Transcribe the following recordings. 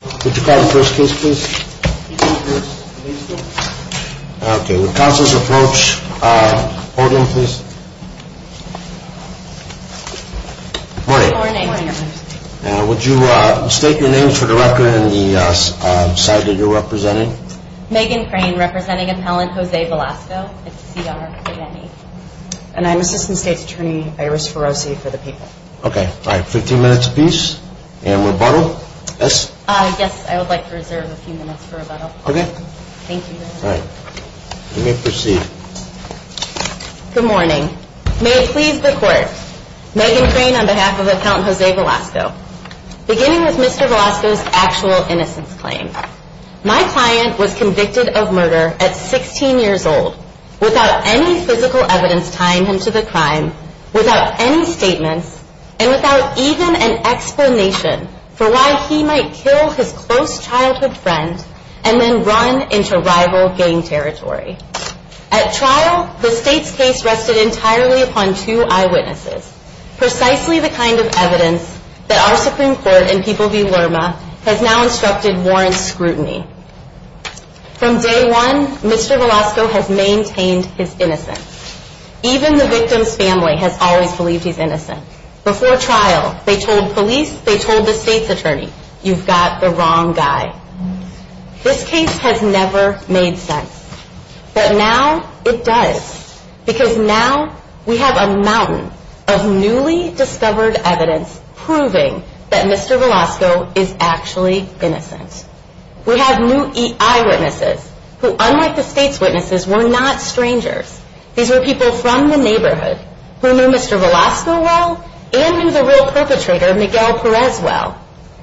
Would you state your name for the record and the side that you're representing. Megan Crane representing appellant Jose Velasco. And I'm Assistant State's Attorney Iris Ferrosi for the people. Good morning. May it please the court. Megan Crane on behalf of appellant Jose Velasco. Beginning with Mr. Velasco's actual innocence claim. My client was convicted of murder at 16 years old without any physical evidence tying him to the crime, without any statements, and without even an explanation for why he might kill his close childhood friend and then run into rival gang territory. At trial, the state's case rested entirely upon two eyewitnesses. Precisely the kind of evidence that our Supreme Court and People v. Lerma has now instructed warrants scrutiny. From day one, Mr. Velasco has maintained his innocence. Even the victim's family has always believed he's innocent. Before trial, they told police, they told the state's attorney, you've got the wrong guy. This case has never made sense. But now it does. Because now we have a mountain of newly discovered evidence proving that Mr. Velasco is actually innocent. We have new eyewitnesses who, unlike the state's witnesses, were not strangers. These were people from the neighborhood who knew Mr. Velasco well and knew the real perpetrator Miguel Perez well.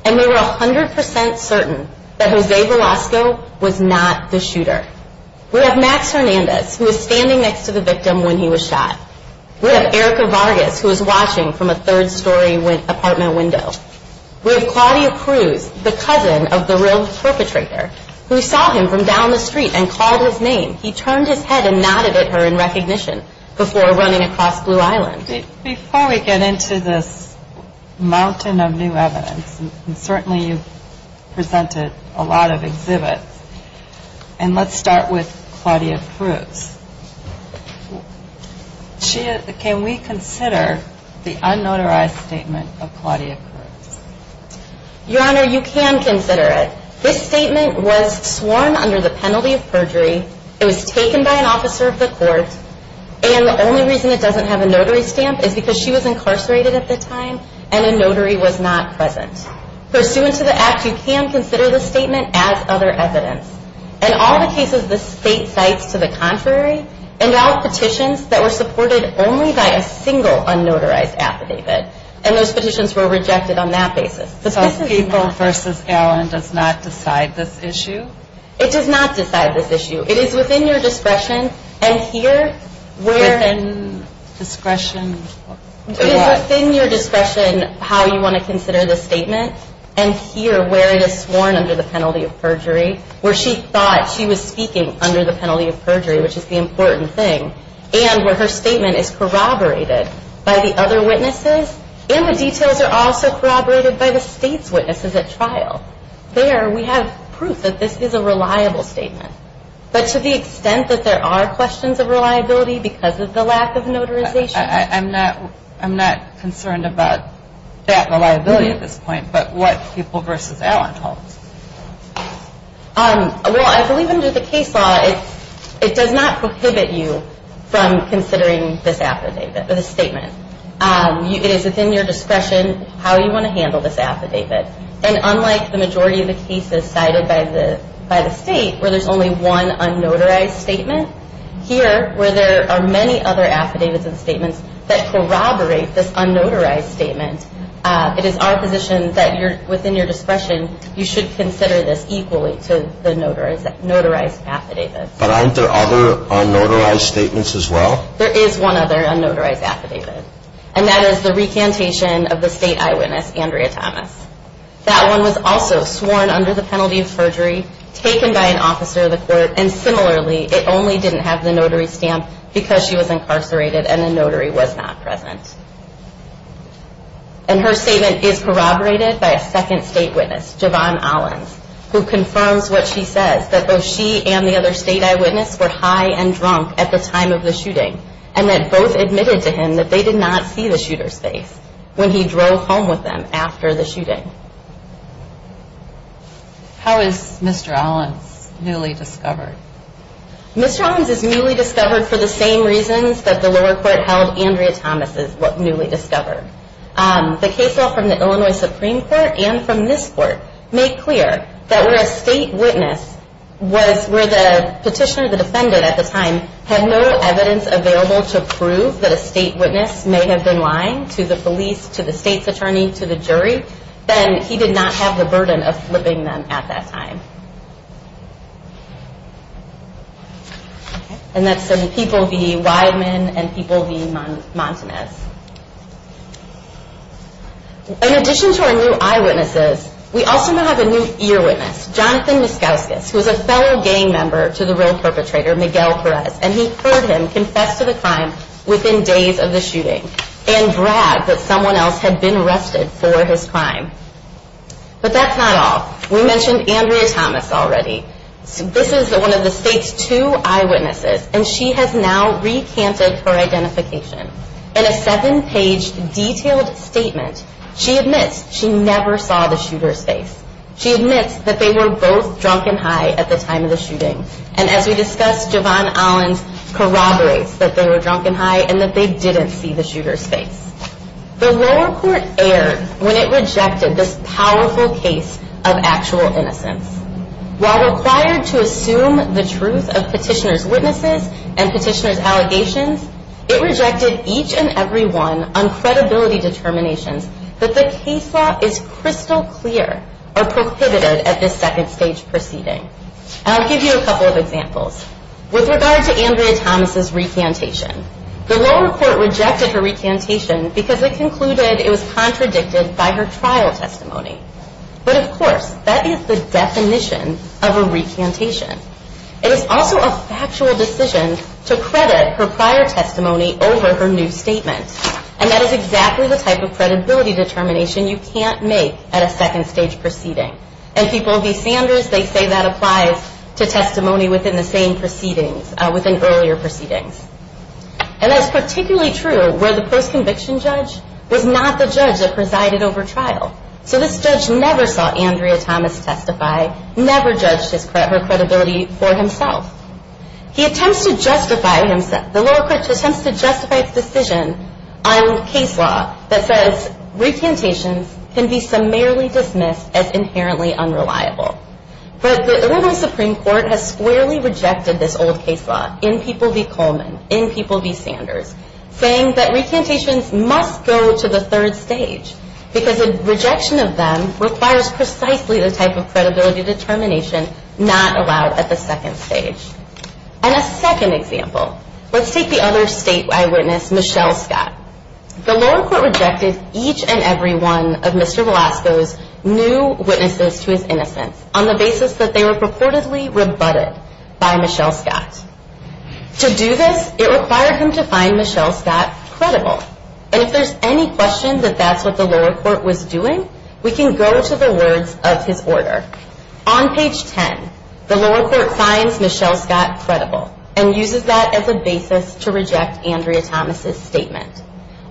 And they were 100% certain that Jose Velasco was not the shooter. We have Max Hernandez, who was standing next to the victim when he was shot. We have Erica Vargas, who was watching from a third-story apartment window. We have Claudia Cruz, the cousin of the real perpetrator, who saw him from down the street and called his name. He turned his head and nodded at her in recognition before running across Blue Island. Before we get into this mountain of new evidence, and certainly you've presented a lot of exhibits, and let's start with Claudia Cruz. Can we consider the unnotarized statement of Claudia Cruz? Your Honor, you can consider it. This statement was sworn under the penalty of perjury. It was taken by an officer of the court. And the only reason it doesn't have a notary stamp is because she was incarcerated at the time and a notary was not present. Pursuant to the act, you can consider this statement as other evidence. In all the cases, the state cites to the contrary, and filed petitions that were supported only by a single unnotarized affidavit. And those petitions were rejected on that basis. So People v. Allen does not decide this issue? It does not decide this issue. It is within your discretion, and here where it is sworn under the penalty of perjury, where she thought she was speaking under the penalty of perjury, which is the important thing, and where her statement is corroborated by the other witnesses, and the details are also corroborated by the state. The state's witnesses at trial, there we have proof that this is a reliable statement. But to the extent that there are questions of reliability because of the lack of notarization. I'm not concerned about that reliability at this point, but what People v. Allen holds. Well, I believe under the case law, it does not prohibit you from considering this affidavit, this statement. It is within your discretion how you want to handle this affidavit. And unlike the majority of the cases cited by the state where there is only one unnotarized statement, here where there are many other affidavits and statements that corroborate this unnotarized statement, it is our position that within your discretion you should consider this affidavit. You should consider this equally to the notarized affidavit. But aren't there other unnotarized statements as well? There is one other unnotarized affidavit, and that is the recantation of the state eyewitness, Andrea Thomas. That one was also sworn under the penalty of perjury, taken by an officer of the court, and similarly, it only didn't have the notary stamp because she was incarcerated and the notary was not present. And her statement is corroborated by a second state witness, Javon Allens, who confirms what she says, that both she and the other state eyewitness were high and drunk at the time of the shooting, and that both admitted to him that they did not see the shooter's face when he drove home with them after the shooting. How is Mr. Allens newly discovered? Mr. Allens is newly discovered for the same reasons that the lower court held Andrea Thomas is newly discovered. The case law from the Illinois Supreme Court and from this court made clear that where a state witness, where the petitioner, the defendant at the time, had no evidence available to prove that a state witness may have been lying to the police, to the state's attorney, to the jury, then he did not have the burden of flipping them at that time. And that's people v. Weidman and people v. Montanez. In addition to our new eyewitnesses, we also now have a new ear witness, Jonathan Miscauscus, who is a fellow gang member to the real perpetrator, Miguel Perez, and he heard him confess to the crime within days of the shooting and bragged that someone else had been arrested for his crime. But that's not all. We mentioned Andrea Thomas already. This is one of the state's two eyewitnesses, and she has now recanted her identification. In a seven-page detailed statement, she admits she never saw the shooter's face. She admits that they were both drunk and high at the time of the shooting. And as we discussed, Javon Allens corroborates that they were drunk and high and that they didn't see the shooter's face. The lower court erred when it rejected this powerful case of actual innocence. While required to assume the truth of petitioner's witnesses and petitioner's allegations, it rejected each and every one on credibility determinations that the case law is crystal clear or prohibited at this second stage proceeding. And I'll give you a couple of examples. With regard to Andrea Thomas' recantation, the lower court rejected her recantation because it concluded it was contradicted by her trial testimony. But of course, that is the definition of a recantation. It is also a factual decision to credit her prior testimony over her new statement. And that is exactly the type of credibility determination you can't make at a second stage proceeding. And people of these standards, they say that applies to testimony within the same proceedings, within earlier proceedings. And that is particularly true where the post-conviction judge was not the judge that presided over trial. So this judge never saw Andrea Thomas testify, never judged her credibility for himself. He attempts to justify himself, the lower court attempts to justify his decision on case law that says recantations can be summarily dismissed as inherently unreliable. But the Illinois Supreme Court has squarely rejected this old case law, in people v. Coleman, in people v. Sanders, saying that recantations must go to the third stage. Because a rejection of them requires precisely the type of credibility determination not allowed at the second stage. And a second example, let's take the other statewide witness, Michelle Scott. The lower court rejected each and every one of Mr. Velasco's new witnesses to his innocence on the basis that they were purportedly rebutted by Michelle Scott. To do this, it required him to find Michelle Scott credible. And if there's any question that that's what the lower court was doing, we can go to the words of his order. On page 10, the lower court finds Michelle Scott credible and uses that as a basis to reject Andrea Thomas' statement.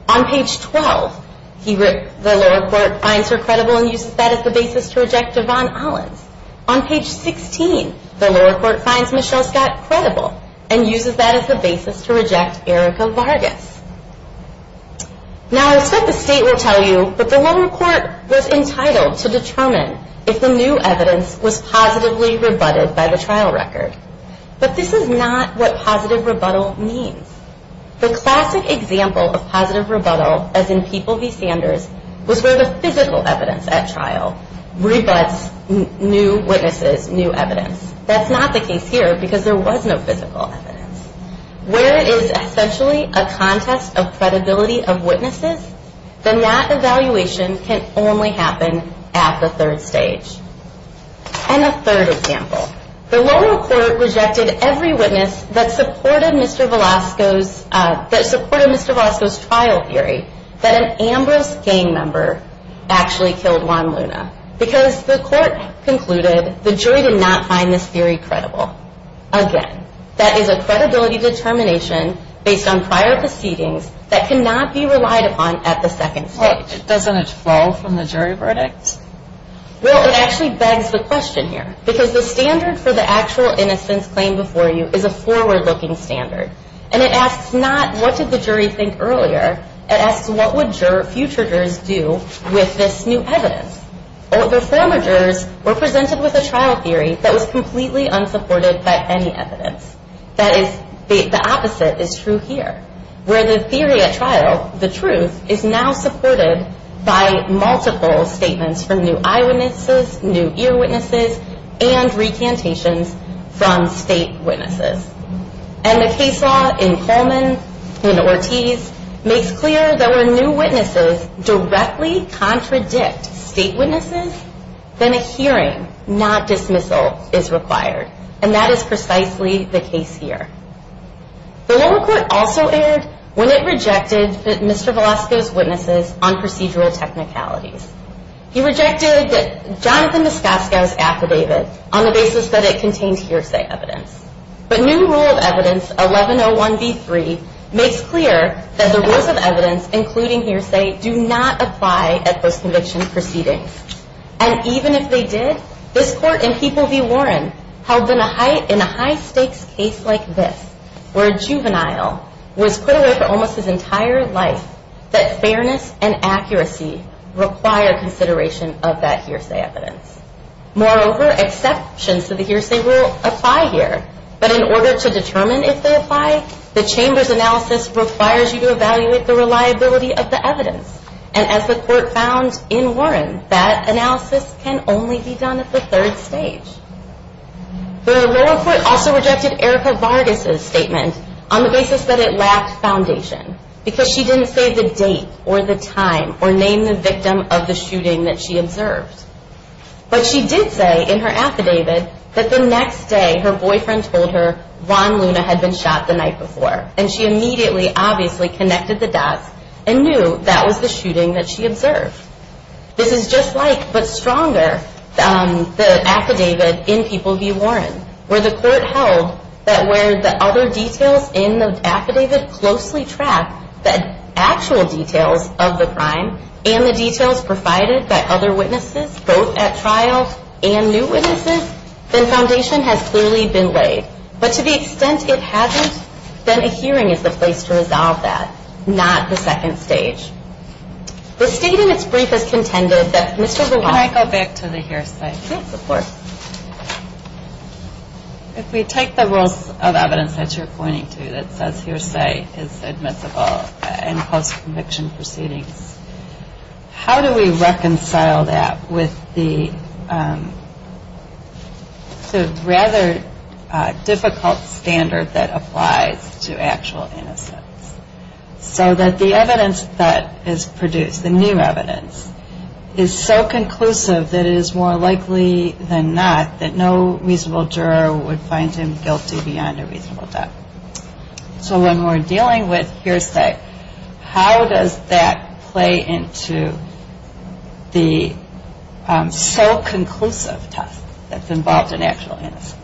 On page 12, the lower court finds her credible and uses that as a basis to reject Yvonne Ollins. On page 16, the lower court finds Michelle Scott credible and uses that as a basis to reject Erica Vargas. Now, I expect the state will tell you that the lower court was entitled to determine if the new evidence was positively rebutted by the trial record. But this is not what positive rebuttal means. The classic example of positive rebuttal, as in people v. Sanders, was where the physical evidence at trial rebutts new witnesses, new evidence. That's not the case here because there was no physical evidence. Where it is essentially a contest of credibility of witnesses, then that evaluation can only happen at the third stage. And a third example. The lower court rejected every witness that supported Mr. Velasco's trial theory that an Ambrose gang member actually killed Juan Luna. Because the court concluded the jury did not find this theory credible. Again, that is a credibility determination based on prior proceedings that cannot be relied upon at the second stage. Doesn't it fall from the jury verdict? Well, it actually begs the question here. Because the standard for the actual innocence claim before you is a forward-looking standard. And it asks not what did the jury think earlier. It asks what would future jurors do with this new evidence. The former jurors were presented with a trial theory that was completely unsupported by any evidence. The opposite is true here. Where the theory at trial, the truth, is now supported by multiple statements from new eyewitnesses, new earwitnesses, and recantations from state witnesses. And the case law in Coleman, in Ortiz, makes clear that when new witnesses directly contradict state witnesses, then a hearing, not dismissal, is required. And that is precisely the case here. The lower court also erred when it rejected Mr. Velasco's witnesses on procedural technicalities. He rejected Jonathan Moskosko's affidavit on the basis that it contained hearsay evidence. But new rule of evidence, 1101B3, makes clear that the rules of evidence, including hearsay, do not apply at post-conviction proceedings. And even if they did, this court in People v. Warren held them in a high-stakes case like this, where a juvenile was put away for almost his entire life, that fairness and accuracy require consideration of that hearsay evidence. Moreover, exceptions to the hearsay rule apply here. But in order to determine if they apply, the Chamber's analysis requires you to evaluate the reliability of the evidence. And as the court found in Warren, that analysis can only be done at the third stage. The lower court also rejected Erica Vargas' statement on the basis that it lacked foundation, because she didn't say the date or the time or name the victim of the shooting that she observed. But she did say in her affidavit that the next day her boyfriend told her Von Luna had been shot the night before. And she immediately, obviously, connected the dots and knew that was the shooting that she observed. This is just like, but stronger, the affidavit in People v. Warren, where the court held that where the other details in the affidavit closely track the actual details of the crime and the details provided by other witnesses, both at trial and new witnesses, then foundation has clearly been laid. But to the extent it hasn't, then a hearing is the place to resolve that, not the second stage. The state in its brief has contended that Mr. Vargas Can I go back to the hearsay? Yes, of course. If we take the rules of evidence that you're pointing to that says hearsay is admissible in post-conviction proceedings, how do we reconcile that with the rather difficult standard that applies to actual innocence? So that the evidence that is produced, the new evidence, is so conclusive that it is more likely than not that no reasonable juror would find him guilty beyond a reasonable doubt. So when we're dealing with hearsay, how does that play into the so conclusive test that's involved in actual innocence?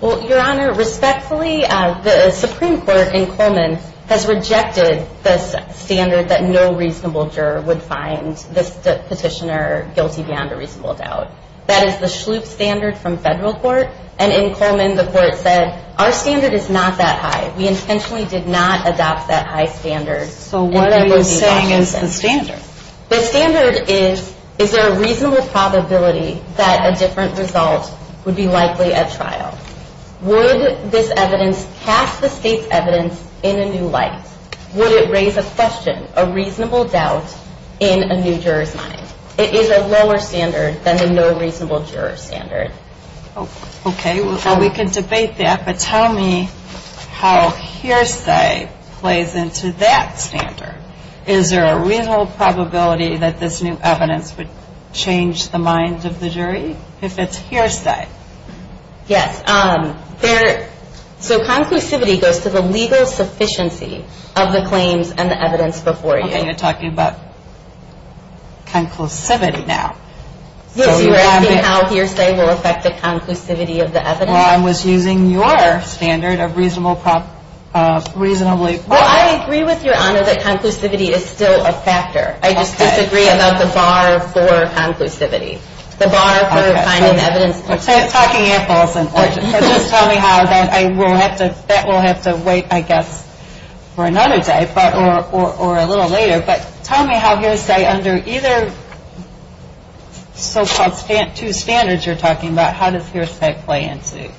Well, Your Honor, respectfully, the Supreme Court in Coleman has rejected this standard that no reasonable juror would find this petitioner guilty beyond a reasonable doubt. That is the Schlup standard from federal court, and in Coleman the court said our standard is not that high. We intentionally did not adopt that high standard. So what are you saying is the standard? The standard is, is there a reasonable probability that a different result would be likely at trial? Would this evidence cast the state's evidence in a new light? Would it raise a question, a reasonable doubt in a new juror's mind? It is a lower standard than the no reasonable juror standard. Okay. Well, we can debate that, but tell me how hearsay plays into that standard. Is there a reasonable probability that this new evidence would change the mind of the jury if it's hearsay? Yes. So conclusivity goes to the legal sufficiency of the claims and the evidence before you. And you're talking about conclusivity now. Yes, you were asking how hearsay will affect the conclusivity of the evidence. Well, I was using your standard of reasonable probability. Well, I agree with Your Honor that conclusivity is still a factor. I just disagree about the bar for conclusivity. The bar for finding evidence. Talking apples and oranges. So just tell me how that will have to wait, I guess, for another day or a little later. But tell me how hearsay under either so-called two standards you're talking about, how does hearsay play into?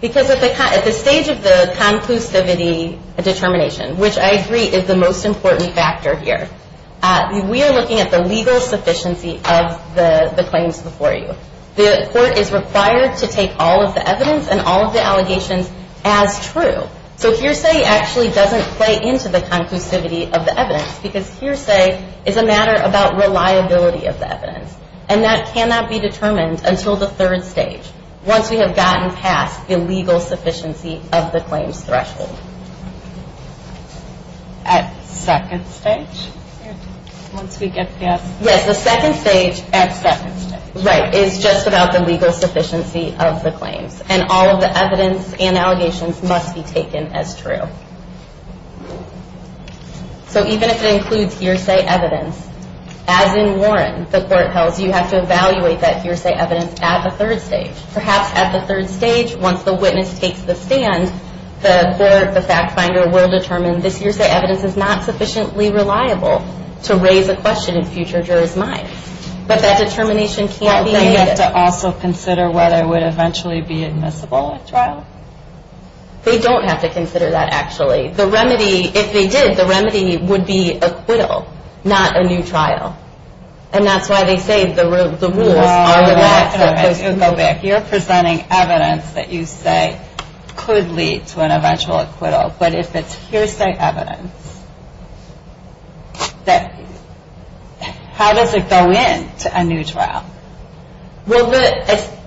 Because at the stage of the conclusivity determination, which I agree is the most important factor here, we are looking at the legal sufficiency of the claims before you. The court is required to take all of the evidence and all of the allegations as true. So hearsay actually doesn't play into the conclusivity of the evidence because hearsay is a matter about reliability of the evidence. And that cannot be determined until the third stage, once we have gotten past the legal sufficiency of the claims threshold. At second stage? Once we get past? Yes, the second stage. At second stage. Right, it's just about the legal sufficiency of the claims. And all of the evidence and allegations must be taken as true. So even if it includes hearsay evidence, as in Warren, the court tells you, you have to evaluate that hearsay evidence at the third stage. Perhaps at the third stage, once the witness takes the stand, the court, the fact finder, will determine this hearsay evidence is not sufficiently reliable to raise a question in future jurors' minds. But that determination can't be made? Well, they have to also consider whether it would eventually be admissible at trial? They don't have to consider that, actually. The remedy, if they did, the remedy would be acquittal, not a new trial. And that's why they say the rules are relaxed. You're presenting evidence that you say could lead to an eventual acquittal. But if it's hearsay evidence, how does it go in to a new trial? Well,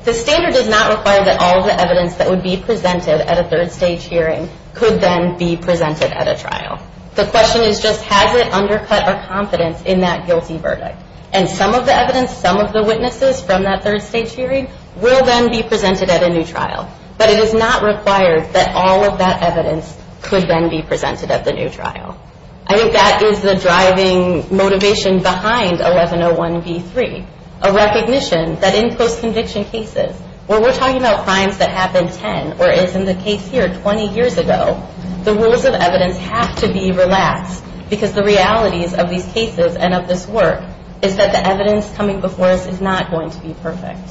the standard does not require that all of the evidence that would be presented at a third stage hearing could then be presented at a trial. The question is just, has it undercut our confidence in that guilty verdict? And some of the evidence, some of the witnesses from that third stage hearing, will then be presented at a new trial. But it is not required that all of that evidence could then be presented at the new trial. I think that is the driving motivation behind 1101B3, a recognition that in post-conviction cases, where we're talking about crimes that happened 10 or is in the case here 20 years ago, the rules of evidence have to be relaxed because the realities of these cases and of this work is that the evidence coming before us is not going to be perfect.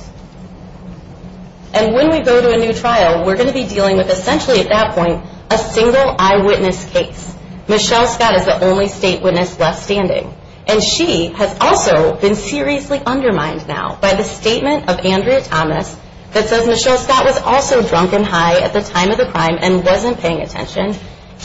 And when we go to a new trial, we're going to be dealing with essentially at that point, a single eyewitness case. Michelle Scott is the only state witness left standing. And she has also been seriously undermined now by the statement of Andrea Thomas that says Michelle Scott was also drunk and high at the time of the crime and wasn't paying attention.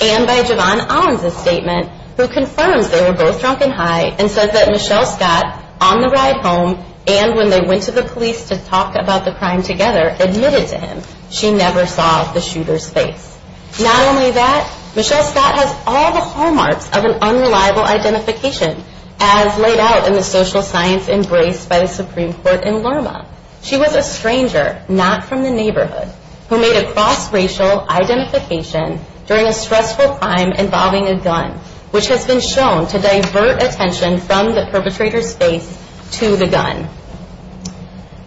And by Javon Owens' statement, who confirms they were both drunk and high and says that Michelle Scott, on the ride home, and when they went to the police to talk about the crime together, admitted to him she never saw the shooter's face. Not only that, Michelle Scott has all the hallmarks of an unreliable identification, as laid out in the social science embraced by the Supreme Court in Lurma. She was a stranger, not from the neighborhood, who made a cross-racial identification during a stressful crime involving a gun, which has been shown to divert attention from the perpetrator's face to the gun.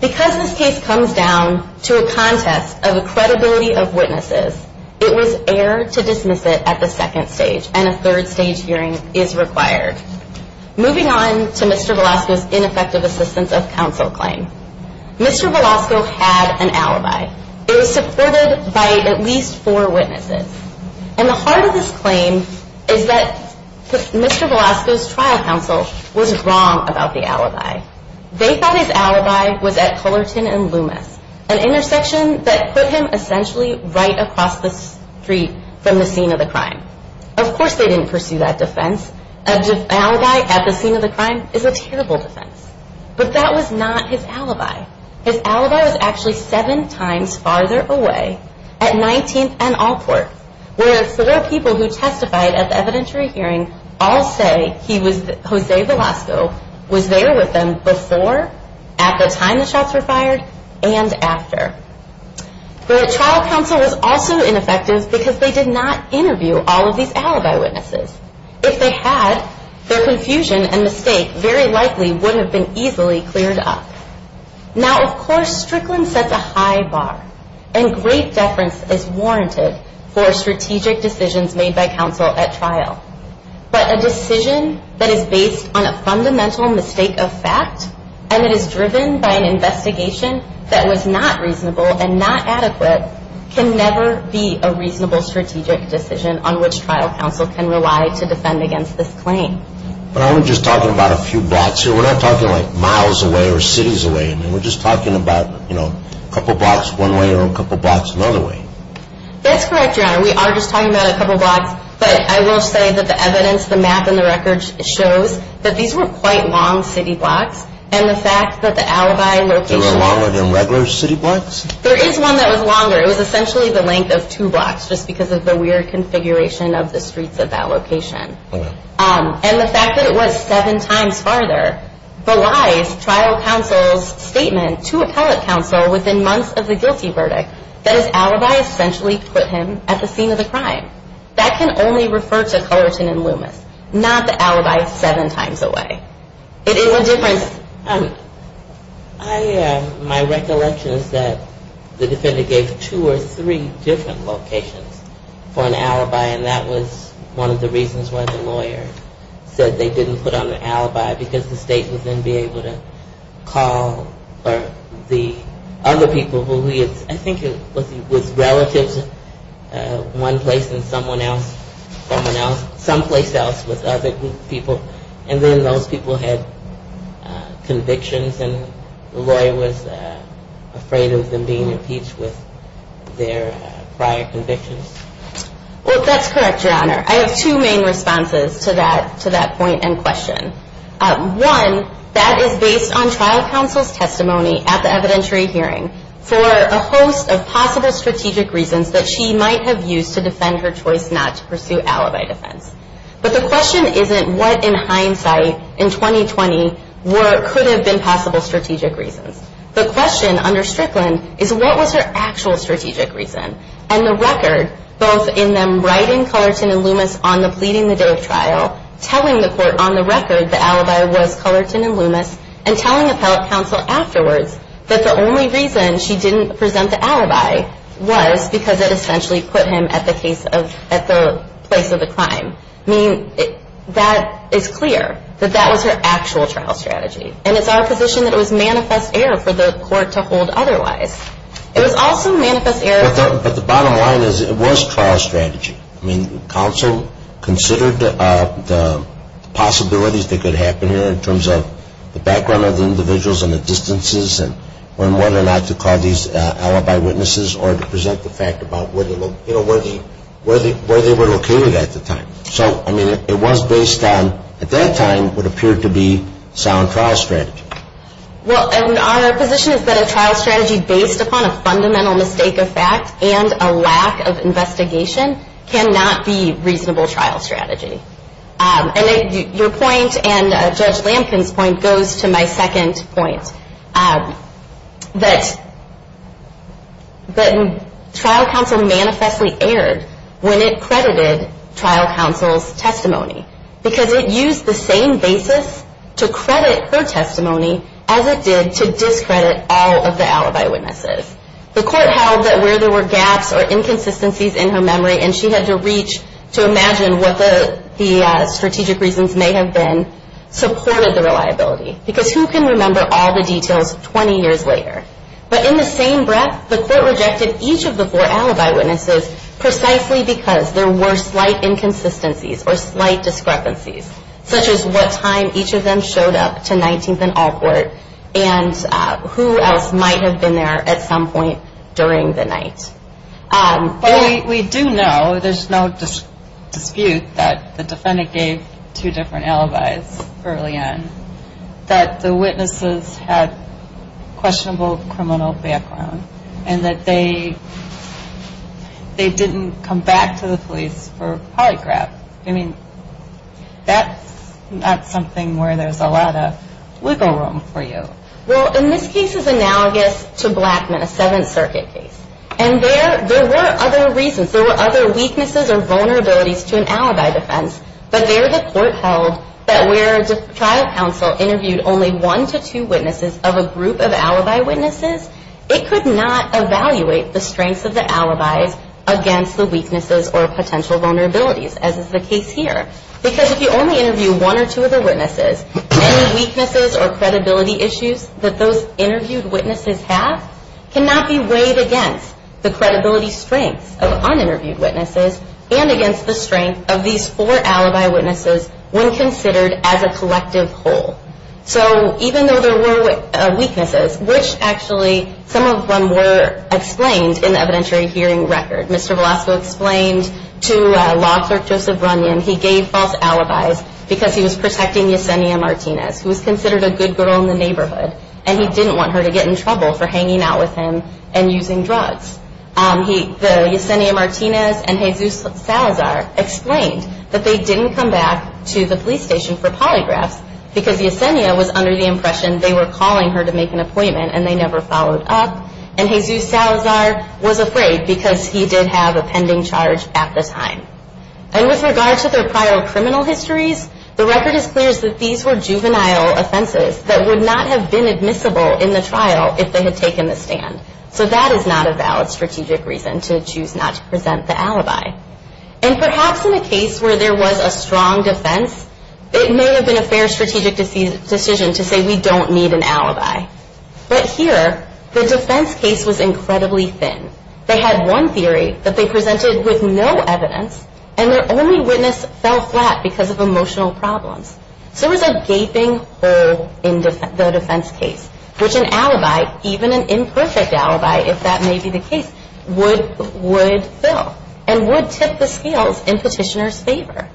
Because this case comes down to a contest of the credibility of witnesses, it was air to dismiss it at the second stage, and a third stage hearing is required. Moving on to Mr. Velasco's ineffective assistance of counsel claim. Mr. Velasco had an alibi. It was supported by at least four witnesses. And the heart of this claim is that Mr. Velasco's trial counsel was wrong about the alibi. They thought his alibi was at Cullerton and Loomis, an intersection that put him essentially right across the street from the scene of the crime. Of course they didn't pursue that defense. An alibi at the scene of the crime is a terrible defense. But that was not his alibi. His alibi was actually seven times farther away at 19th and Alport, where four people who testified at the evidentiary hearing all say he was, Jose Velasco, was there with them before, at the time the shots were fired, and after. The trial counsel was also ineffective because they did not interview all of these alibi witnesses. If they had, their confusion and mistake very likely wouldn't have been easily cleared up. Now, of course, Strickland sets a high bar, and great deference is warranted for strategic decisions made by counsel at trial. But a decision that is based on a fundamental mistake of fact and that is driven by an investigation that was not reasonable and not adequate can never be a reasonable strategic decision on which trial counsel can rely to defend against this claim. But I'm just talking about a few blocks here. We're not talking, like, miles away or cities away. I mean, we're just talking about, you know, a couple blocks one way or a couple blocks another way. That's correct, Your Honor. We are just talking about a couple blocks, but I will say that the evidence, the map, and the record shows that these were quite long city blocks, and the fact that the alibi location... They were longer than regular city blocks? There is one that was longer. It was essentially the length of two blocks just because of the weird configuration of the streets of that location. All right. And the fact that it was seven times farther belies trial counsel's statement to appellate counsel within months of the guilty verdict that his alibi essentially put him at the scene of the crime. That can only refer to Cullerton and Loomis, not the alibi seven times away. It is a difference. My recollection is that the defendant gave two or three different locations for an alibi, and that was one of the reasons why the lawyer said they didn't put on an alibi because the state would then be able to call the other people who he had, I think it was relatives, one place and someone else, someone else, someplace else with other people, and then those people had convictions, and the lawyer was afraid of them being impeached with their prior convictions? Well, that's correct, Your Honor. I have two main responses to that point and question. One, that is based on trial counsel's testimony at the evidentiary hearing for a host of possible strategic reasons that she might have used to defend her choice not to pursue alibi defense. But the question isn't what in hindsight in 2020 could have been possible strategic reasons. The question under Strickland is what was her actual strategic reason? And the record, both in them writing Cullerton and Loomis on the pleading the day of trial, telling the court on the record the alibi was Cullerton and Loomis, and telling appellate counsel afterwards that the only reason she didn't present the alibi was because it essentially put him at the place of the crime. I mean, that is clear, that that was her actual trial strategy. And it's our position that it was manifest error for the court to hold otherwise. It was also manifest error... But the bottom line is it was trial strategy. I mean, counsel considered the possibilities that could happen here in terms of the background of the individuals and the distances and whether or not to call these alibi witnesses or to present the fact about where they were located at the time. So, I mean, it was based on, at that time, what appeared to be sound trial strategy. Well, our position is that a trial strategy based upon a fundamental mistake of fact and a lack of investigation cannot be reasonable trial strategy. And your point and Judge Lampkin's point goes to my second point. That trial counsel manifestly erred when it credited trial counsel's testimony because it used the same basis to credit her testimony as it did to discredit all of the alibi witnesses. The court held that where there were gaps or inconsistencies in her memory and she had to reach to imagine what the strategic reasons may have been supported the reliability. Because who can remember all the details 20 years later? But in the same breath, the court rejected each of the four alibi witnesses precisely because there were slight inconsistencies or slight discrepancies such as what time each of them showed up to 19th and Alport and who else might have been there at some point during the night. But we do know, there's no dispute that the defendant gave two different alibis early on. That the witnesses had questionable criminal background and that they didn't come back to the police for polygraph. I mean, that's not something where there's a lot of wiggle room for you. Well, and this case is analogous to Blackman, a Seventh Circuit case. And there were other reasons. There were other weaknesses or vulnerabilities to an alibi defense. But there the court held that where the trial counsel interviewed only one to two witnesses of a group of alibi witnesses, it could not evaluate the strengths of the alibis against the weaknesses or potential vulnerabilities as is the case here. Because if you only interview one or two of the witnesses, any weaknesses or credibility issues that those interviewed witnesses have cannot be weighed against the credibility strengths of un-interviewed witnesses and against the strength of these four alibi witnesses when considered as a collective whole. So even though there were weaknesses, which actually, some of them were explained in the evidentiary hearing record. Mr. Velasco explained to law clerk Joseph Runyon he gave false alibis because he was protecting Yesenia Martinez, who was considered a good girl in the neighborhood. And he didn't want her to get in trouble for hanging out with him and using drugs. Yesenia Martinez and Jesus Salazar explained that they didn't come back to the police station for polygraphs because Yesenia was under the impression they were calling her to make an appointment and they never followed up. And Jesus Salazar was afraid because he did have a pending charge at the time. And with regard to their prior criminal histories, the record is clear that these were juvenile offenses that would not have been admissible in the trial if they had taken the stand. So that is not a valid strategic reason to choose not to present the alibi. And perhaps in a case where there was a strong defense, it may have been a fair strategic decision to say we don't need an alibi. But here, the defense case was incredibly thin. They had one theory that they presented with no evidence and their only witness fell flat because of emotional problems. So there was a gaping hole in the defense case, which an alibi, even an imperfect alibi if that may be the case, would fill and would tip the scales in petitioner's favor.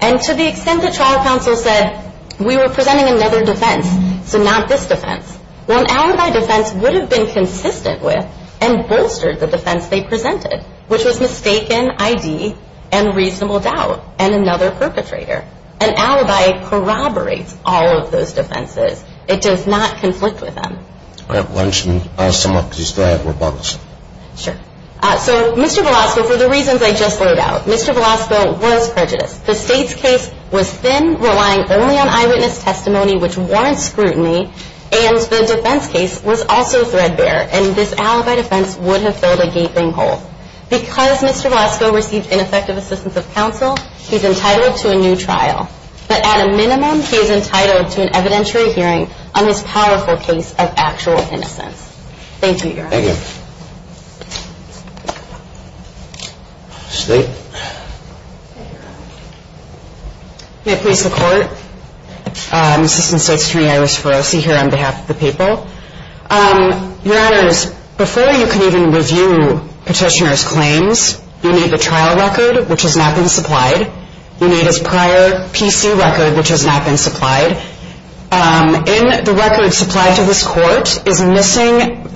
And to the extent that trial counsel said we were presenting another defense, so not this defense, well an alibi defense would have been consistent with and bolstered the defense they presented, which was mistaken ID and reasonable doubt and another perpetrator. An alibi corroborates all of those defenses. It does not conflict with them. All right. Why don't you sum up because you still have more bugs. Sure. So Mr. Velasco, for the reasons I just laid out, Mr. Velasco was prejudiced. The state's case was thin, relying only on eyewitness testimony, which warrants scrutiny, and the defense case was also threadbare, and this alibi defense would have filled a gaping hole. Because Mr. Velasco received ineffective assistance of counsel, he's entitled to a new trial. But at a minimum, he is entitled to an evidentiary hearing on his powerful case of actual innocence. Thank you, Your Honor. Thank you. State. May it please the Court, Assistant State's Attorney Iris Ferrosi here on behalf of the people. Your Honors, before you can even review petitioner's claims, you need the trial record, which has not been supplied. You need his prior PC record, which has not been supplied. In the record supplied to this Court is missing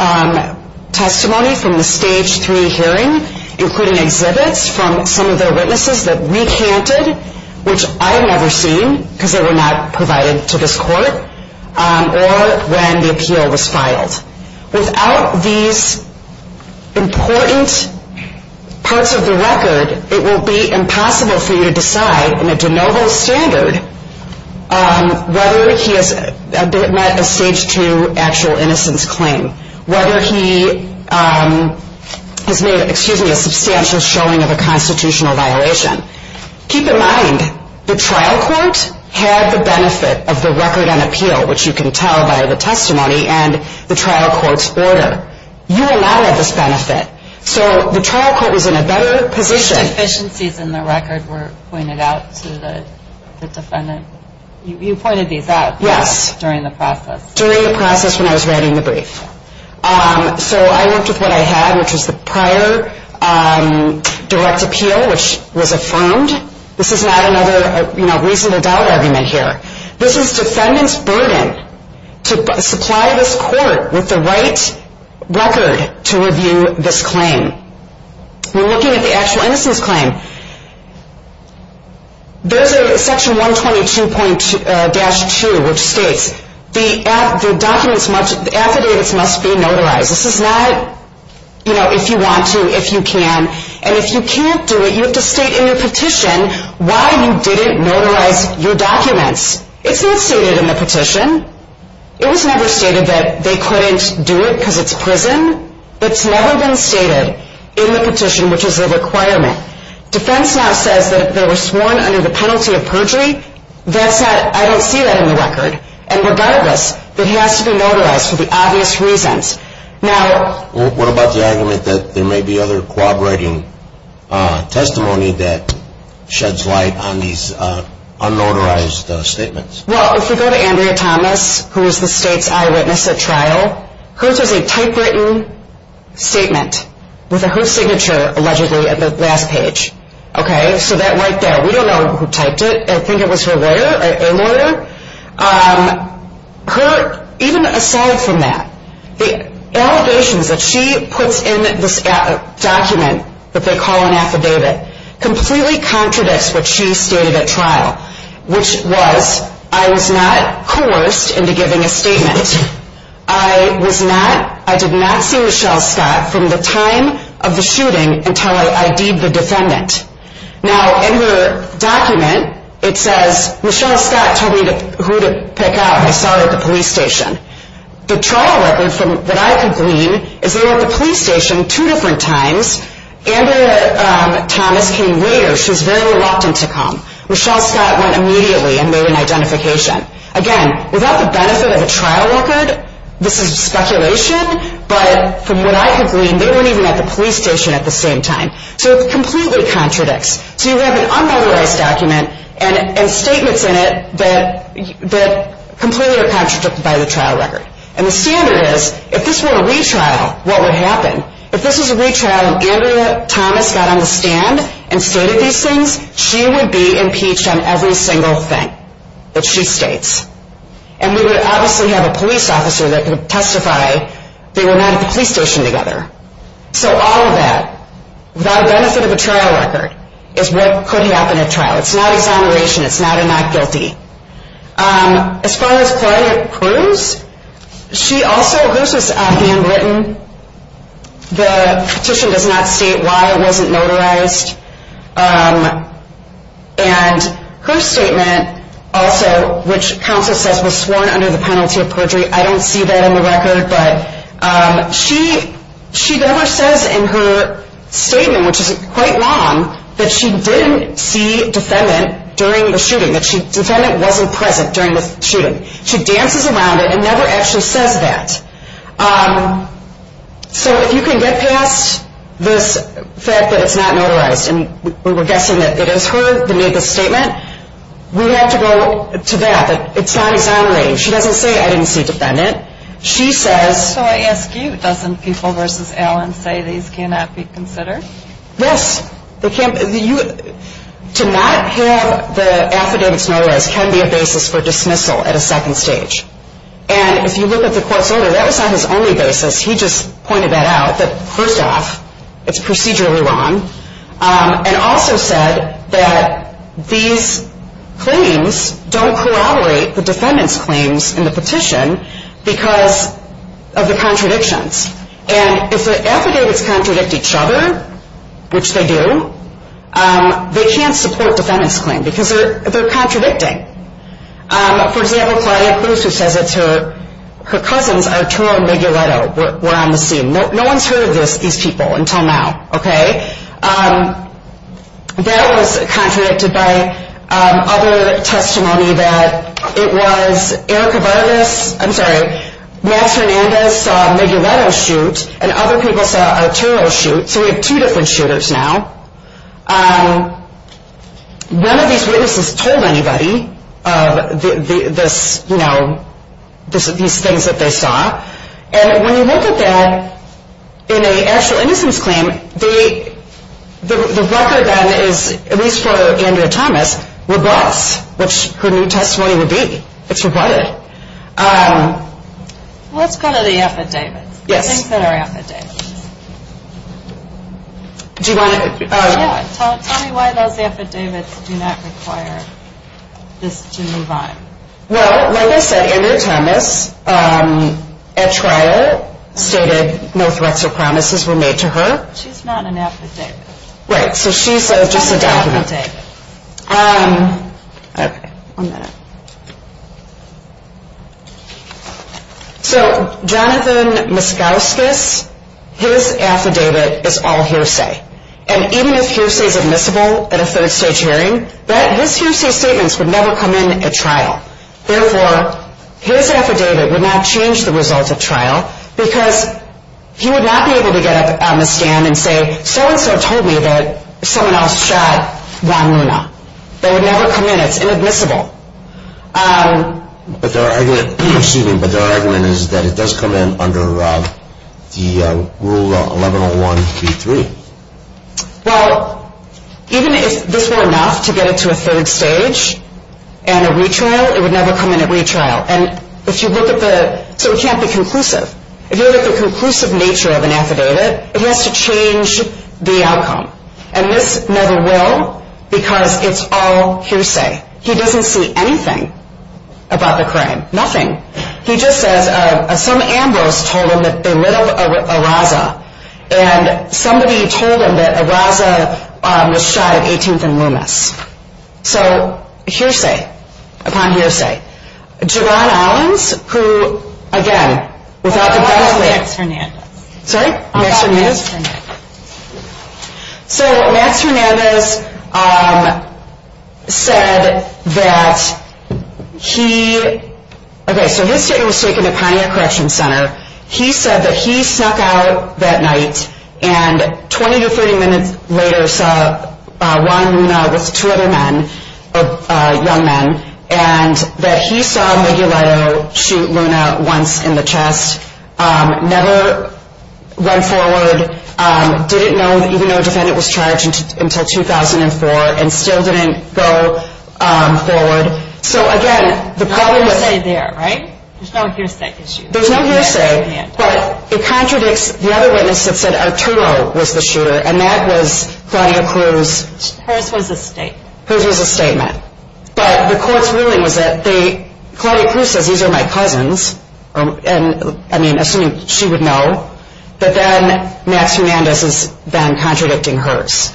testimony from the Stage 3 hearing, including exhibits from some of the witnesses that recanted, which I have never seen because they were not provided to this Court, or when the appeal was filed. Without these important parts of the record, it will be impossible for you to decide in a de novo standard whether he has met a Stage 2 actual innocence claim, whether he has made a substantial showing of a constitutional violation. Keep in mind, the trial court had the benefit of the record on appeal, which you can tell by the testimony and the trial court's order. You will not have this benefit. So the trial court was in a better position. Deficiencies in the record were pointed out to the defendant. You pointed these out during the process. During the process when I was writing the brief. So I worked with what I had, which was the prior direct appeal, which was affirmed. This is not another reasonable doubt argument here. This is defendant's burden to supply this Court with the right record to review this claim. We're looking at the actual innocence claim. There's a section 122-2, which states the affidavits must be notarized. This is not, you know, if you want to, if you can. And if you can't do it, you have to state in your petition why you didn't notarize your documents. It's not stated in the petition. It was never stated that they couldn't do it because it's prison. It's never been stated in the petition, which is a requirement. Defense now says that they were sworn under the penalty of perjury. That's not, I don't see that in the record. And regardless, it has to be notarized for the obvious reasons. Now. What about the argument that there may be other corroborating testimony that sheds light on these unnotarized statements? Well, if you go to Andrea Thomas, who is the state's eyewitness at trial, hers is a typewritten statement with her signature allegedly at the last page. Okay. So that right there. We don't know who typed it. I think it was her lawyer, a lawyer. Her, even aside from that, the allegations that she puts in this document that they call an affidavit completely contradicts what she stated at trial, which was, I was not coerced into giving a statement. I was not, I did not see Michelle Scott from the time of the shooting until I ID'd the defendant. Now, in her document, it says Michelle Scott told me who to pick out. I saw her at the police station. The trial record that I could glean is they were at the police station two different times. Andrea Thomas came later. She was very reluctant to come. Michelle Scott went immediately and made an identification. Again, without the benefit of a trial record, this is speculation, but from what I could glean, they weren't even at the police station at the same time. So it completely contradicts. So you have an unauthorized document and statements in it that completely are contradicted by the trial record. And the standard is, if this were a retrial, what would happen? If this was a retrial and Andrea Thomas got on the stand and stated these things, she would be impeached on every single thing that she states. And we would obviously have a police officer that could testify they were not at the police station together. So all of that, without the benefit of a trial record, is what could happen at trial. It's not exoneration. It's not a not guilty. As far as Claudia Cruz, she also, hers was handwritten. The petition does not state why it wasn't notarized. And her statement also, which counsel says was sworn under the penalty of perjury, I don't see that in the record, but she never says in her statement, which is quite long, that she didn't see defendant during the shooting, that defendant wasn't present during the shooting. She dances around it and never actually says that. So if you can get past this fact that it's not notarized, and we're guessing that it is her that made the statement, we have to go to that. It's not exoneration. She doesn't say, I didn't see defendant. She says. So I ask you, doesn't People v. Allen say these cannot be considered? Yes. To not have the affidavits notarized can be a basis for dismissal at a second stage. And if you look at the court's order, that was not his only basis. He just pointed that out, that first off, it's procedurally wrong, and also said that these claims don't corroborate the defendant's claims in the petition because of the contradictions. And if the affidavits contradict each other, which they do, they can't support the defendant's claim because they're contradicting. For example, Claudia Cruz, who says it's her cousins, Arturo and Migueletto, were on the scene. No one's heard of these people until now. That was contradicted by other testimony that it was Erica Vargas, I'm sorry, Max Hernandez saw Migueletto shoot and other people saw Arturo shoot. So we have two different shooters now. None of these witnesses told anybody of these things that they saw. And when you look at that in an actual innocence claim, the record then is, at least for Andrea Thomas, robust, which her new testimony would be. It's rebutted. Let's go to the affidavits, the things that are affidavits. Tell me why those affidavits do not require this to move on. Well, like I said, Andrea Thomas at trial stated no threats or promises were made to her. She's not an affidavit. Right, so she's just a document. Okay, one minute. So Jonathan Miscauscus, his affidavit is all hearsay. And even if hearsay is admissible at a third-stage hearing, his hearsay statements would never come in at trial. Therefore, his affidavit would not change the results at trial because he would not be able to get up on the stand and say, so-and-so told me that someone else shot Juan Luna. That would never come in. It's inadmissible. But their argument is that it does come in under the Rule 1101.3. Well, even if this were enough to get it to a third stage and a retrial, it would never come in at retrial. And if you look at the ‑‑ so it can't be conclusive. If you look at the conclusive nature of an affidavit, it has to change the outcome. And this never will because it's all hearsay. He doesn't see anything about the crime, nothing. He just says some Ambrose told him that they lit up a Raza, and somebody told him that a Raza was shot at 18th and Loomis. So hearsay upon hearsay. Jovan Allens, who, again, without the ‑‑ I'm talking about Max Fernandez. Sorry? I'm talking about Max Fernandez. So Max Fernandez said that he ‑‑ okay, so his statement was taken at Pontiac Correction Center. He said that he snuck out that night and 20 to 30 minutes later saw Juan Luna with two other men, young men, and that he saw Miguelito shoot Luna once in the chest. Never went forward. Didn't know, even though a defendant was charged, until 2004 and still didn't go forward. So, again, the problem with ‑‑ There's no hearsay there, right? There's no hearsay issue. There's no hearsay. But it contradicts the other witness that said Arturo was the shooter, and that was Claudia Cruz. Hers was a statement. Hers was a statement. But the court's ruling was that they ‑‑ Claudia Cruz says these are my cousins, and, I mean, assuming she would know. But then Max Fernandez is then contradicting hers,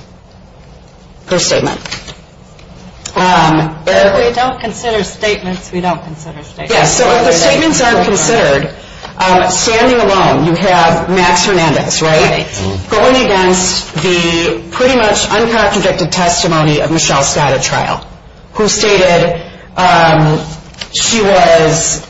her statement. If we don't consider statements, we don't consider statements. Yes, so if the statements aren't considered, standing alone you have Max Fernandez, right? Right. Going against the pretty much uncontradicted testimony of Michelle Scott at trial, who stated she was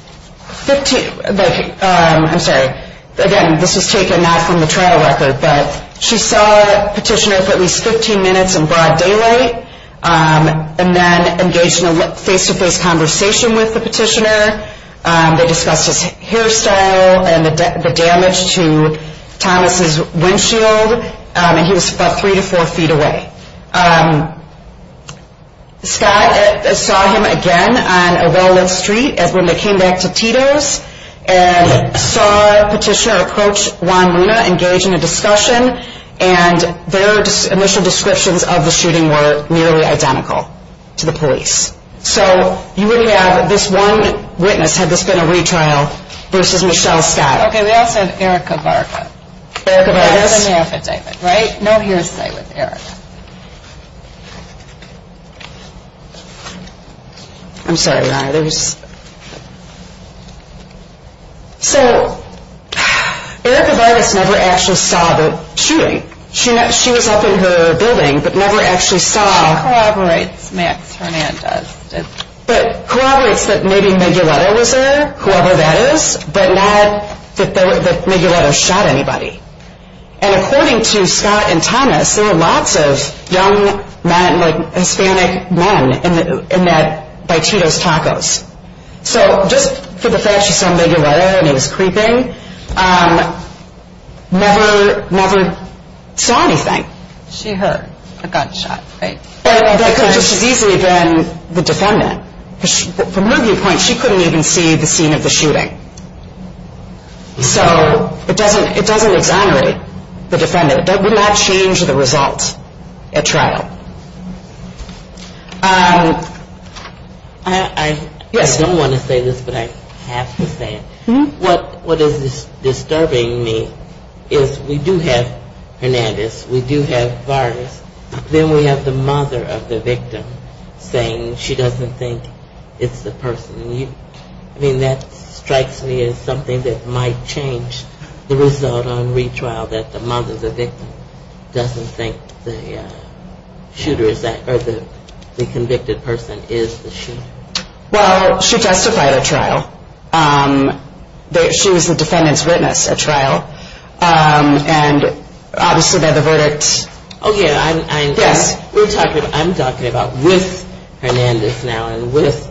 15 ‑‑ I'm sorry. Again, this was taken not from the trial record, but she saw the petitioner for at least 15 minutes in broad daylight and then engaged in a face‑to‑face conversation with the petitioner. They discussed his hairstyle and the damage to Thomas's windshield, and he was about three to four feet away. Scott saw him again on a well‑lit street when they came back to Tito's and saw the petitioner approach Juan Luna, engage in a discussion, and their initial descriptions of the shooting were nearly identical to the police. So you would have this one witness, had this been a retrial, versus Michelle Scott. Okay, we also have Erica Vargas. Erica Vargas. That was in the affidavit, right? No hearsay with Erica. I'm sorry, Ron. So Erica Vargas never actually saw the shooting. She was up in her building but never actually saw. That corroborates Max Hernandez. But corroborates that maybe Miguelito was there, whoever that is, but not that Miguelito shot anybody. And according to Scott and Thomas, there were lots of young men, like Hispanic men by Tito's Tacos. So just for the fact she saw Miguelito and he was creeping, never saw anything. She heard a gunshot, right? Because she's easily been the defendant. From her viewpoint, she couldn't even see the scene of the shooting. So it doesn't exonerate the defendant. It would not change the result at trial. I don't want to say this, but I have to say it. What is disturbing me is we do have Hernandez. We do have Vargas. Then we have the mother of the victim saying she doesn't think it's the person. I mean, that strikes me as something that might change the result on retrial, that the mother of the victim doesn't think the shooter, or the convicted person is the shooter. Well, she testified at trial. She was the defendant's witness at trial. And obviously by the verdict, yes. I'm talking about with Hernandez now and with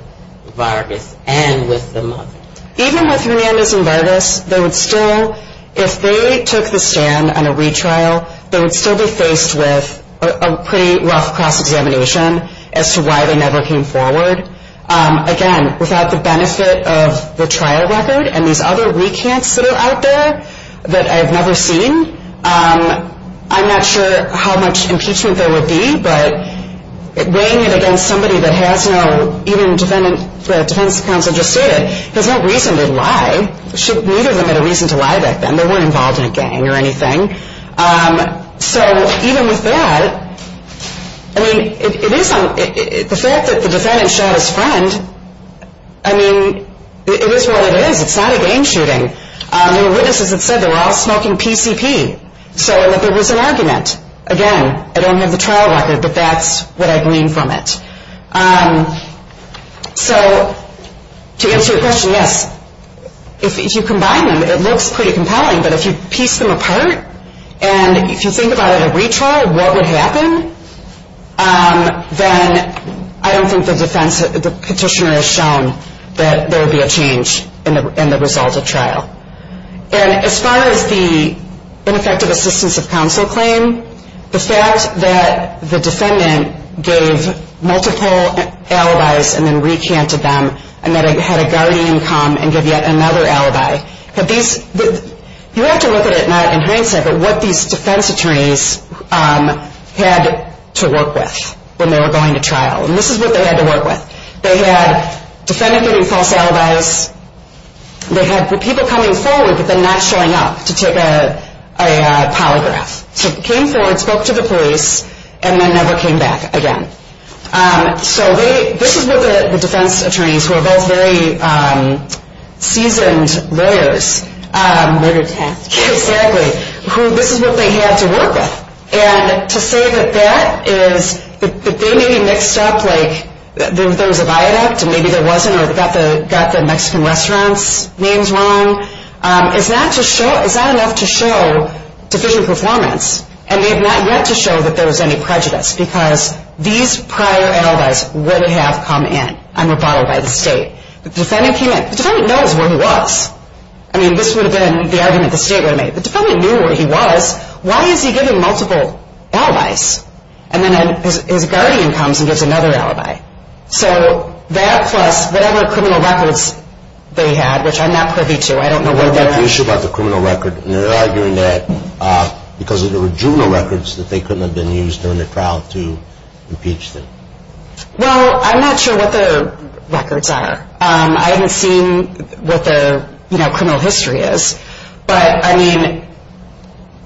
Vargas and with the mother. Even with Hernandez and Vargas, they would still, if they took the stand on a retrial, they would still be faced with a pretty rough cross-examination as to why they never came forward. Again, without the benefit of the trial record and these other recants that are out there that I've never seen, I'm not sure how much impeachment there would be. But weighing it against somebody that has no, even the defense counsel just stated, there's no reason to lie. Neither of them had a reason to lie back then. They weren't involved in a gang or anything. So even with that, I mean, the fact that the defendant shot his friend, I mean, it is what it is. It's not a gang shooting. There were witnesses that said they were all smoking PCP. So there was an argument. Again, I don't have the trial record, but that's what I gleaned from it. So to answer your question, yes, if you combine them, it looks pretty compelling. But if you piece them apart and if you think about it at retrial, what would happen? Then I don't think the petitioner has shown that there would be a change in the result of trial. And as far as the ineffective assistance of counsel claim, the fact that the defendant gave multiple alibis and then recanted them and that it had a guardian come and give yet another alibi, you have to look at it not in hindsight, but what these defense attorneys had to work with when they were going to trial. And this is what they had to work with. They had the defendant giving false alibis. They had the people coming forward but then not showing up to take a polygraph. So they came forward, spoke to the police, and then never came back again. So this is what the defense attorneys, who are both very seasoned lawyers. Murder test. Exactly. This is what they had to work with. And to say that that is, that they maybe mixed up like there was a viaduct and maybe there wasn't or got the Mexican restaurant's names wrong, is not enough to show sufficient performance. And they have not yet to show that there was any prejudice because these prior alibis would have come in and were followed by the state. The defendant came in. The defendant knows where he was. I mean, this would have been the argument the state would have made. The defendant knew where he was. Why is he giving multiple alibis? And then his guardian comes and gives another alibi. So that plus whatever criminal records they had, which I'm not privy to, I don't know where they're at. We have an issue about the criminal record, and they're arguing that because there were juvenile records that they couldn't have been used during the trial to impeach them. Well, I'm not sure what the records are. I haven't seen what the criminal history is. But, I mean,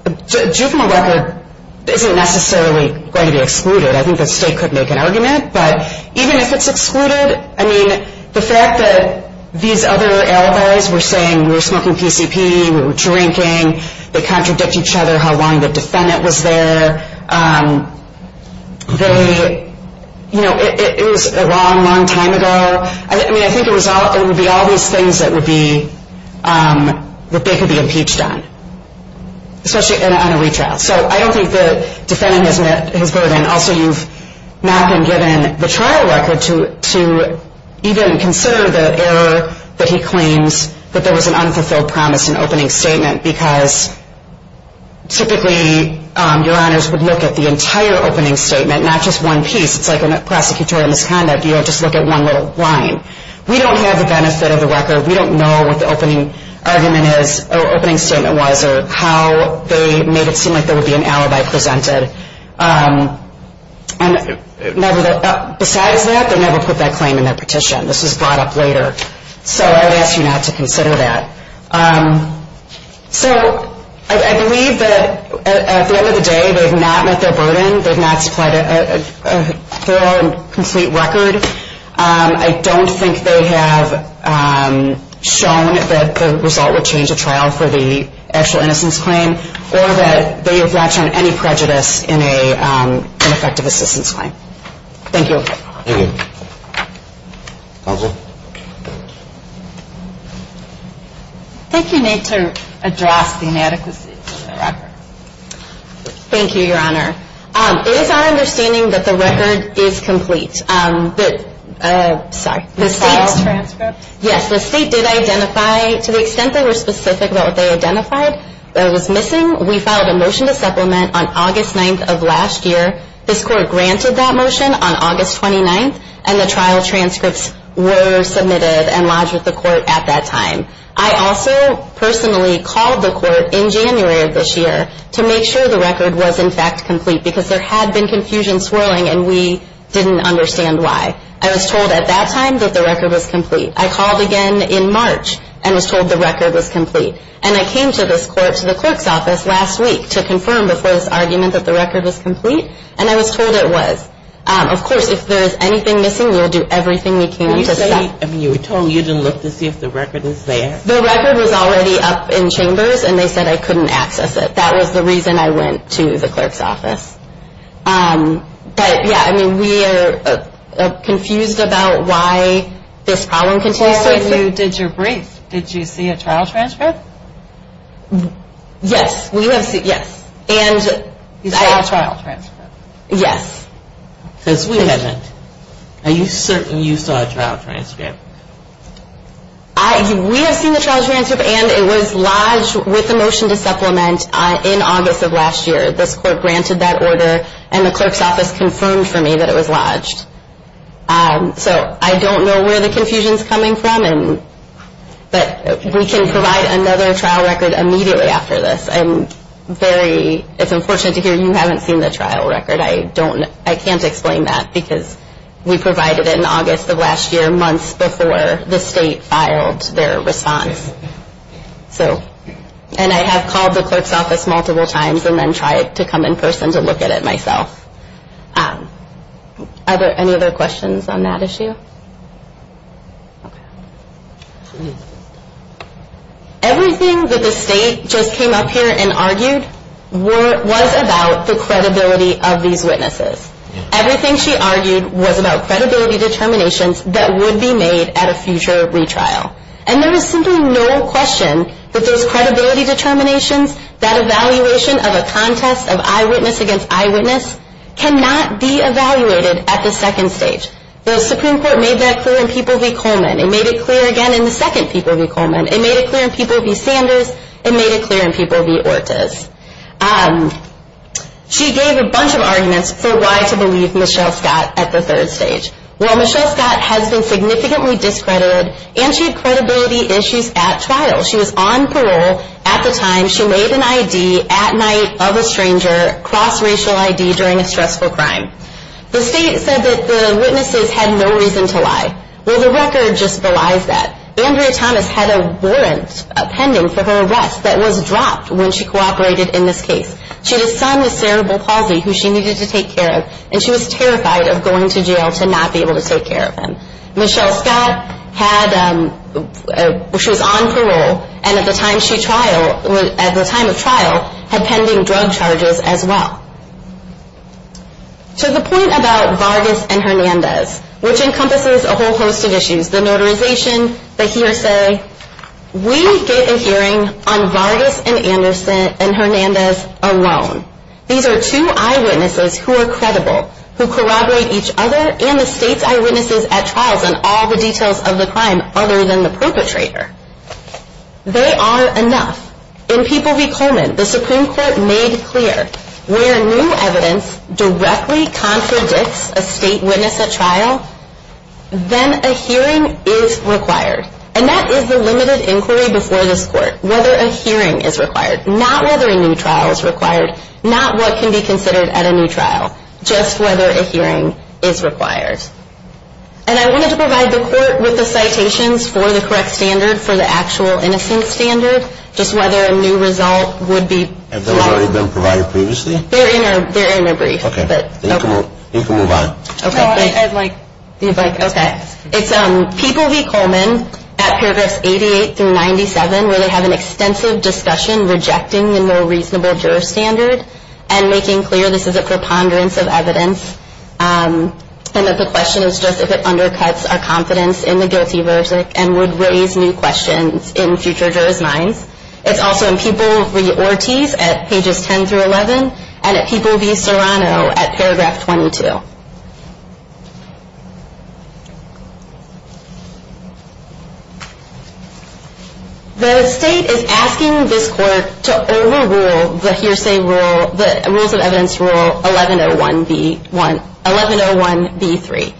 a juvenile record isn't necessarily going to be excluded. I think the state could make an argument. But even if it's excluded, I mean, the fact that these other alibis were saying, we were smoking PCP, we were drinking, they contradict each other how long the defendant was there. It was a long, long time ago. I mean, I think it would be all these things that they could be impeached on, especially on a retrial. So I don't think the defendant has met his burden. Also, you've not been given the trial record to even consider the error that he claims that there was an unfulfilled promise in opening statement, because typically your honors would look at the entire opening statement, not just one piece. It's like a prosecutorial misconduct. You don't just look at one little line. We don't have the benefit of the record. We don't know what the opening argument is or opening statement was or how they made it seem like there would be an alibi presented. Besides that, they never put that claim in their petition. This was brought up later. So I would ask you not to consider that. So I believe that at the end of the day, they have not met their burden. They have not supplied a thorough and complete record. I don't think they have shown that the result would change a trial for the actual innocence claim or that they have not shown any prejudice in an effective assistance claim. Thank you. Thank you. Counsel? I think you need to address the inadequacy of the record. Thank you, Your Honor. It is our understanding that the record is complete. The state's transcript? Yes, the state did identify, to the extent they were specific about what they identified, that it was missing. We filed a motion to supplement on August 9th of last year. This court granted that motion on August 29th, and the trial transcripts were submitted and lodged with the court at that time. I also personally called the court in January of this year to make sure the record was, in fact, complete, because there had been confusion swirling and we didn't understand why. I was told at that time that the record was complete. I called again in March and was told the record was complete. And I came to this court, to the clerk's office, last week to confirm before this argument that the record was complete. And I was told it was. Of course, if there is anything missing, we'll do everything we can to stop it. You were told you didn't look to see if the record was there? The record was already up in chambers, and they said I couldn't access it. That was the reason I went to the clerk's office. But, yeah, I mean, we are confused about why this problem continues. Before you did your brief, did you see a trial transcript? Yes, we have seen, yes. You saw a trial transcript? Yes. Because we haven't. Are you certain you saw a trial transcript? We have seen the trial transcript, and it was lodged with the motion to supplement in August of last year. This court granted that order, and the clerk's office confirmed for me that it was lodged. So I don't know where the confusion is coming from, but we can provide another trial record immediately after this. I'm very unfortunate to hear you haven't seen the trial record. I can't explain that because we provided it in August of last year, months before the state filed their response. And I have called the clerk's office multiple times and then tried to come in person to look at it myself. Any other questions on that issue? Everything that the state just came up here and argued was about the credibility of these witnesses. Everything she argued was about credibility determinations that would be made at a future retrial. And there is simply no question that those credibility determinations, that evaluation of a contest of eyewitness against eyewitness, cannot be evaluated at the second stage. The Supreme Court made that clear in People v. Coleman. It made it clear again in the second People v. Coleman. It made it clear in People v. Sanders. It made it clear in People v. Ortiz. She gave a bunch of arguments for why to believe Michelle Scott at the third stage. Well, Michelle Scott has been significantly discredited, and she had credibility issues at trial. She was on parole at the time she made an ID at night of a stranger, cross-racial ID during a stressful crime. The state said that the witnesses had no reason to lie. Well, the record just belies that. Andrea Thomas had a warrant pending for her arrest that was dropped when she cooperated in this case. She had a son with cerebral palsy who she needed to take care of, and she was terrified of going to jail to not be able to take care of him. Michelle Scott, she was on parole, and at the time of trial had pending drug charges as well. To the point about Vargas and Hernandez, which encompasses a whole host of issues, the notarization, the hearsay, we get a hearing on Vargas and Hernandez alone. These are two eyewitnesses who are credible, who corroborate each other and the state's eyewitnesses at trials on all the details of the crime other than the perpetrator. They are enough. In People v. Coleman, the Supreme Court made clear where new evidence directly contradicts a state witness at trial, then a hearing is required. And that is the limited inquiry before this court, whether a hearing is required, not whether a new trial is required, not what can be considered at a new trial, just whether a hearing is required. And I wanted to provide the court with the citations for the correct standard for the actual innocence standard, just whether a new result would be... Have they already been provided previously? They're in a brief. Okay. You can move on. No, I'd like... Okay. It's People v. Coleman at paragraphs 88 through 97, where they have an extensive discussion rejecting the more reasonable juror standard and making clear this is a preponderance of evidence and that the question is just if it undercuts our confidence in the guilty verdict and would raise new questions in future jurors' minds. It's also in People v. Ortiz at pages 10 through 11 and at People v. Serrano at paragraph 22. The state is asking this court to overrule the hearsay rule, the rules of evidence rule 1101B3.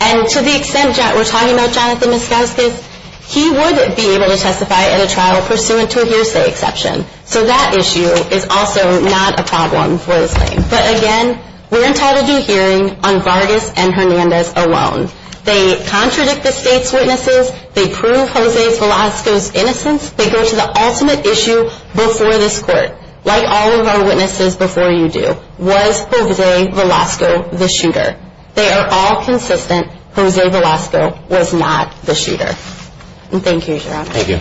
And to the extent that we're talking about Jonathan Moskowskis, he would be able to testify at a trial pursuant to a hearsay exception. So that issue is also not a problem for this claim. But, again, we're entitled to a hearing on Vargas and Hernandez alone. They contradict the state's witnesses. They prove Jose Velasco's innocence. They go to the ultimate issue before this court, like all of our witnesses before you do. Was Jose Velasco the shooter? They are all consistent. Jose Velasco was not the shooter. Thank you, Your Honor. Thank you. All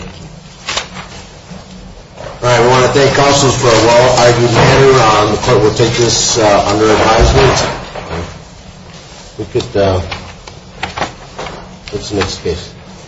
right. I want to thank counsels for a long argument here. The court will take this under advisement. All right. We could put this in its place.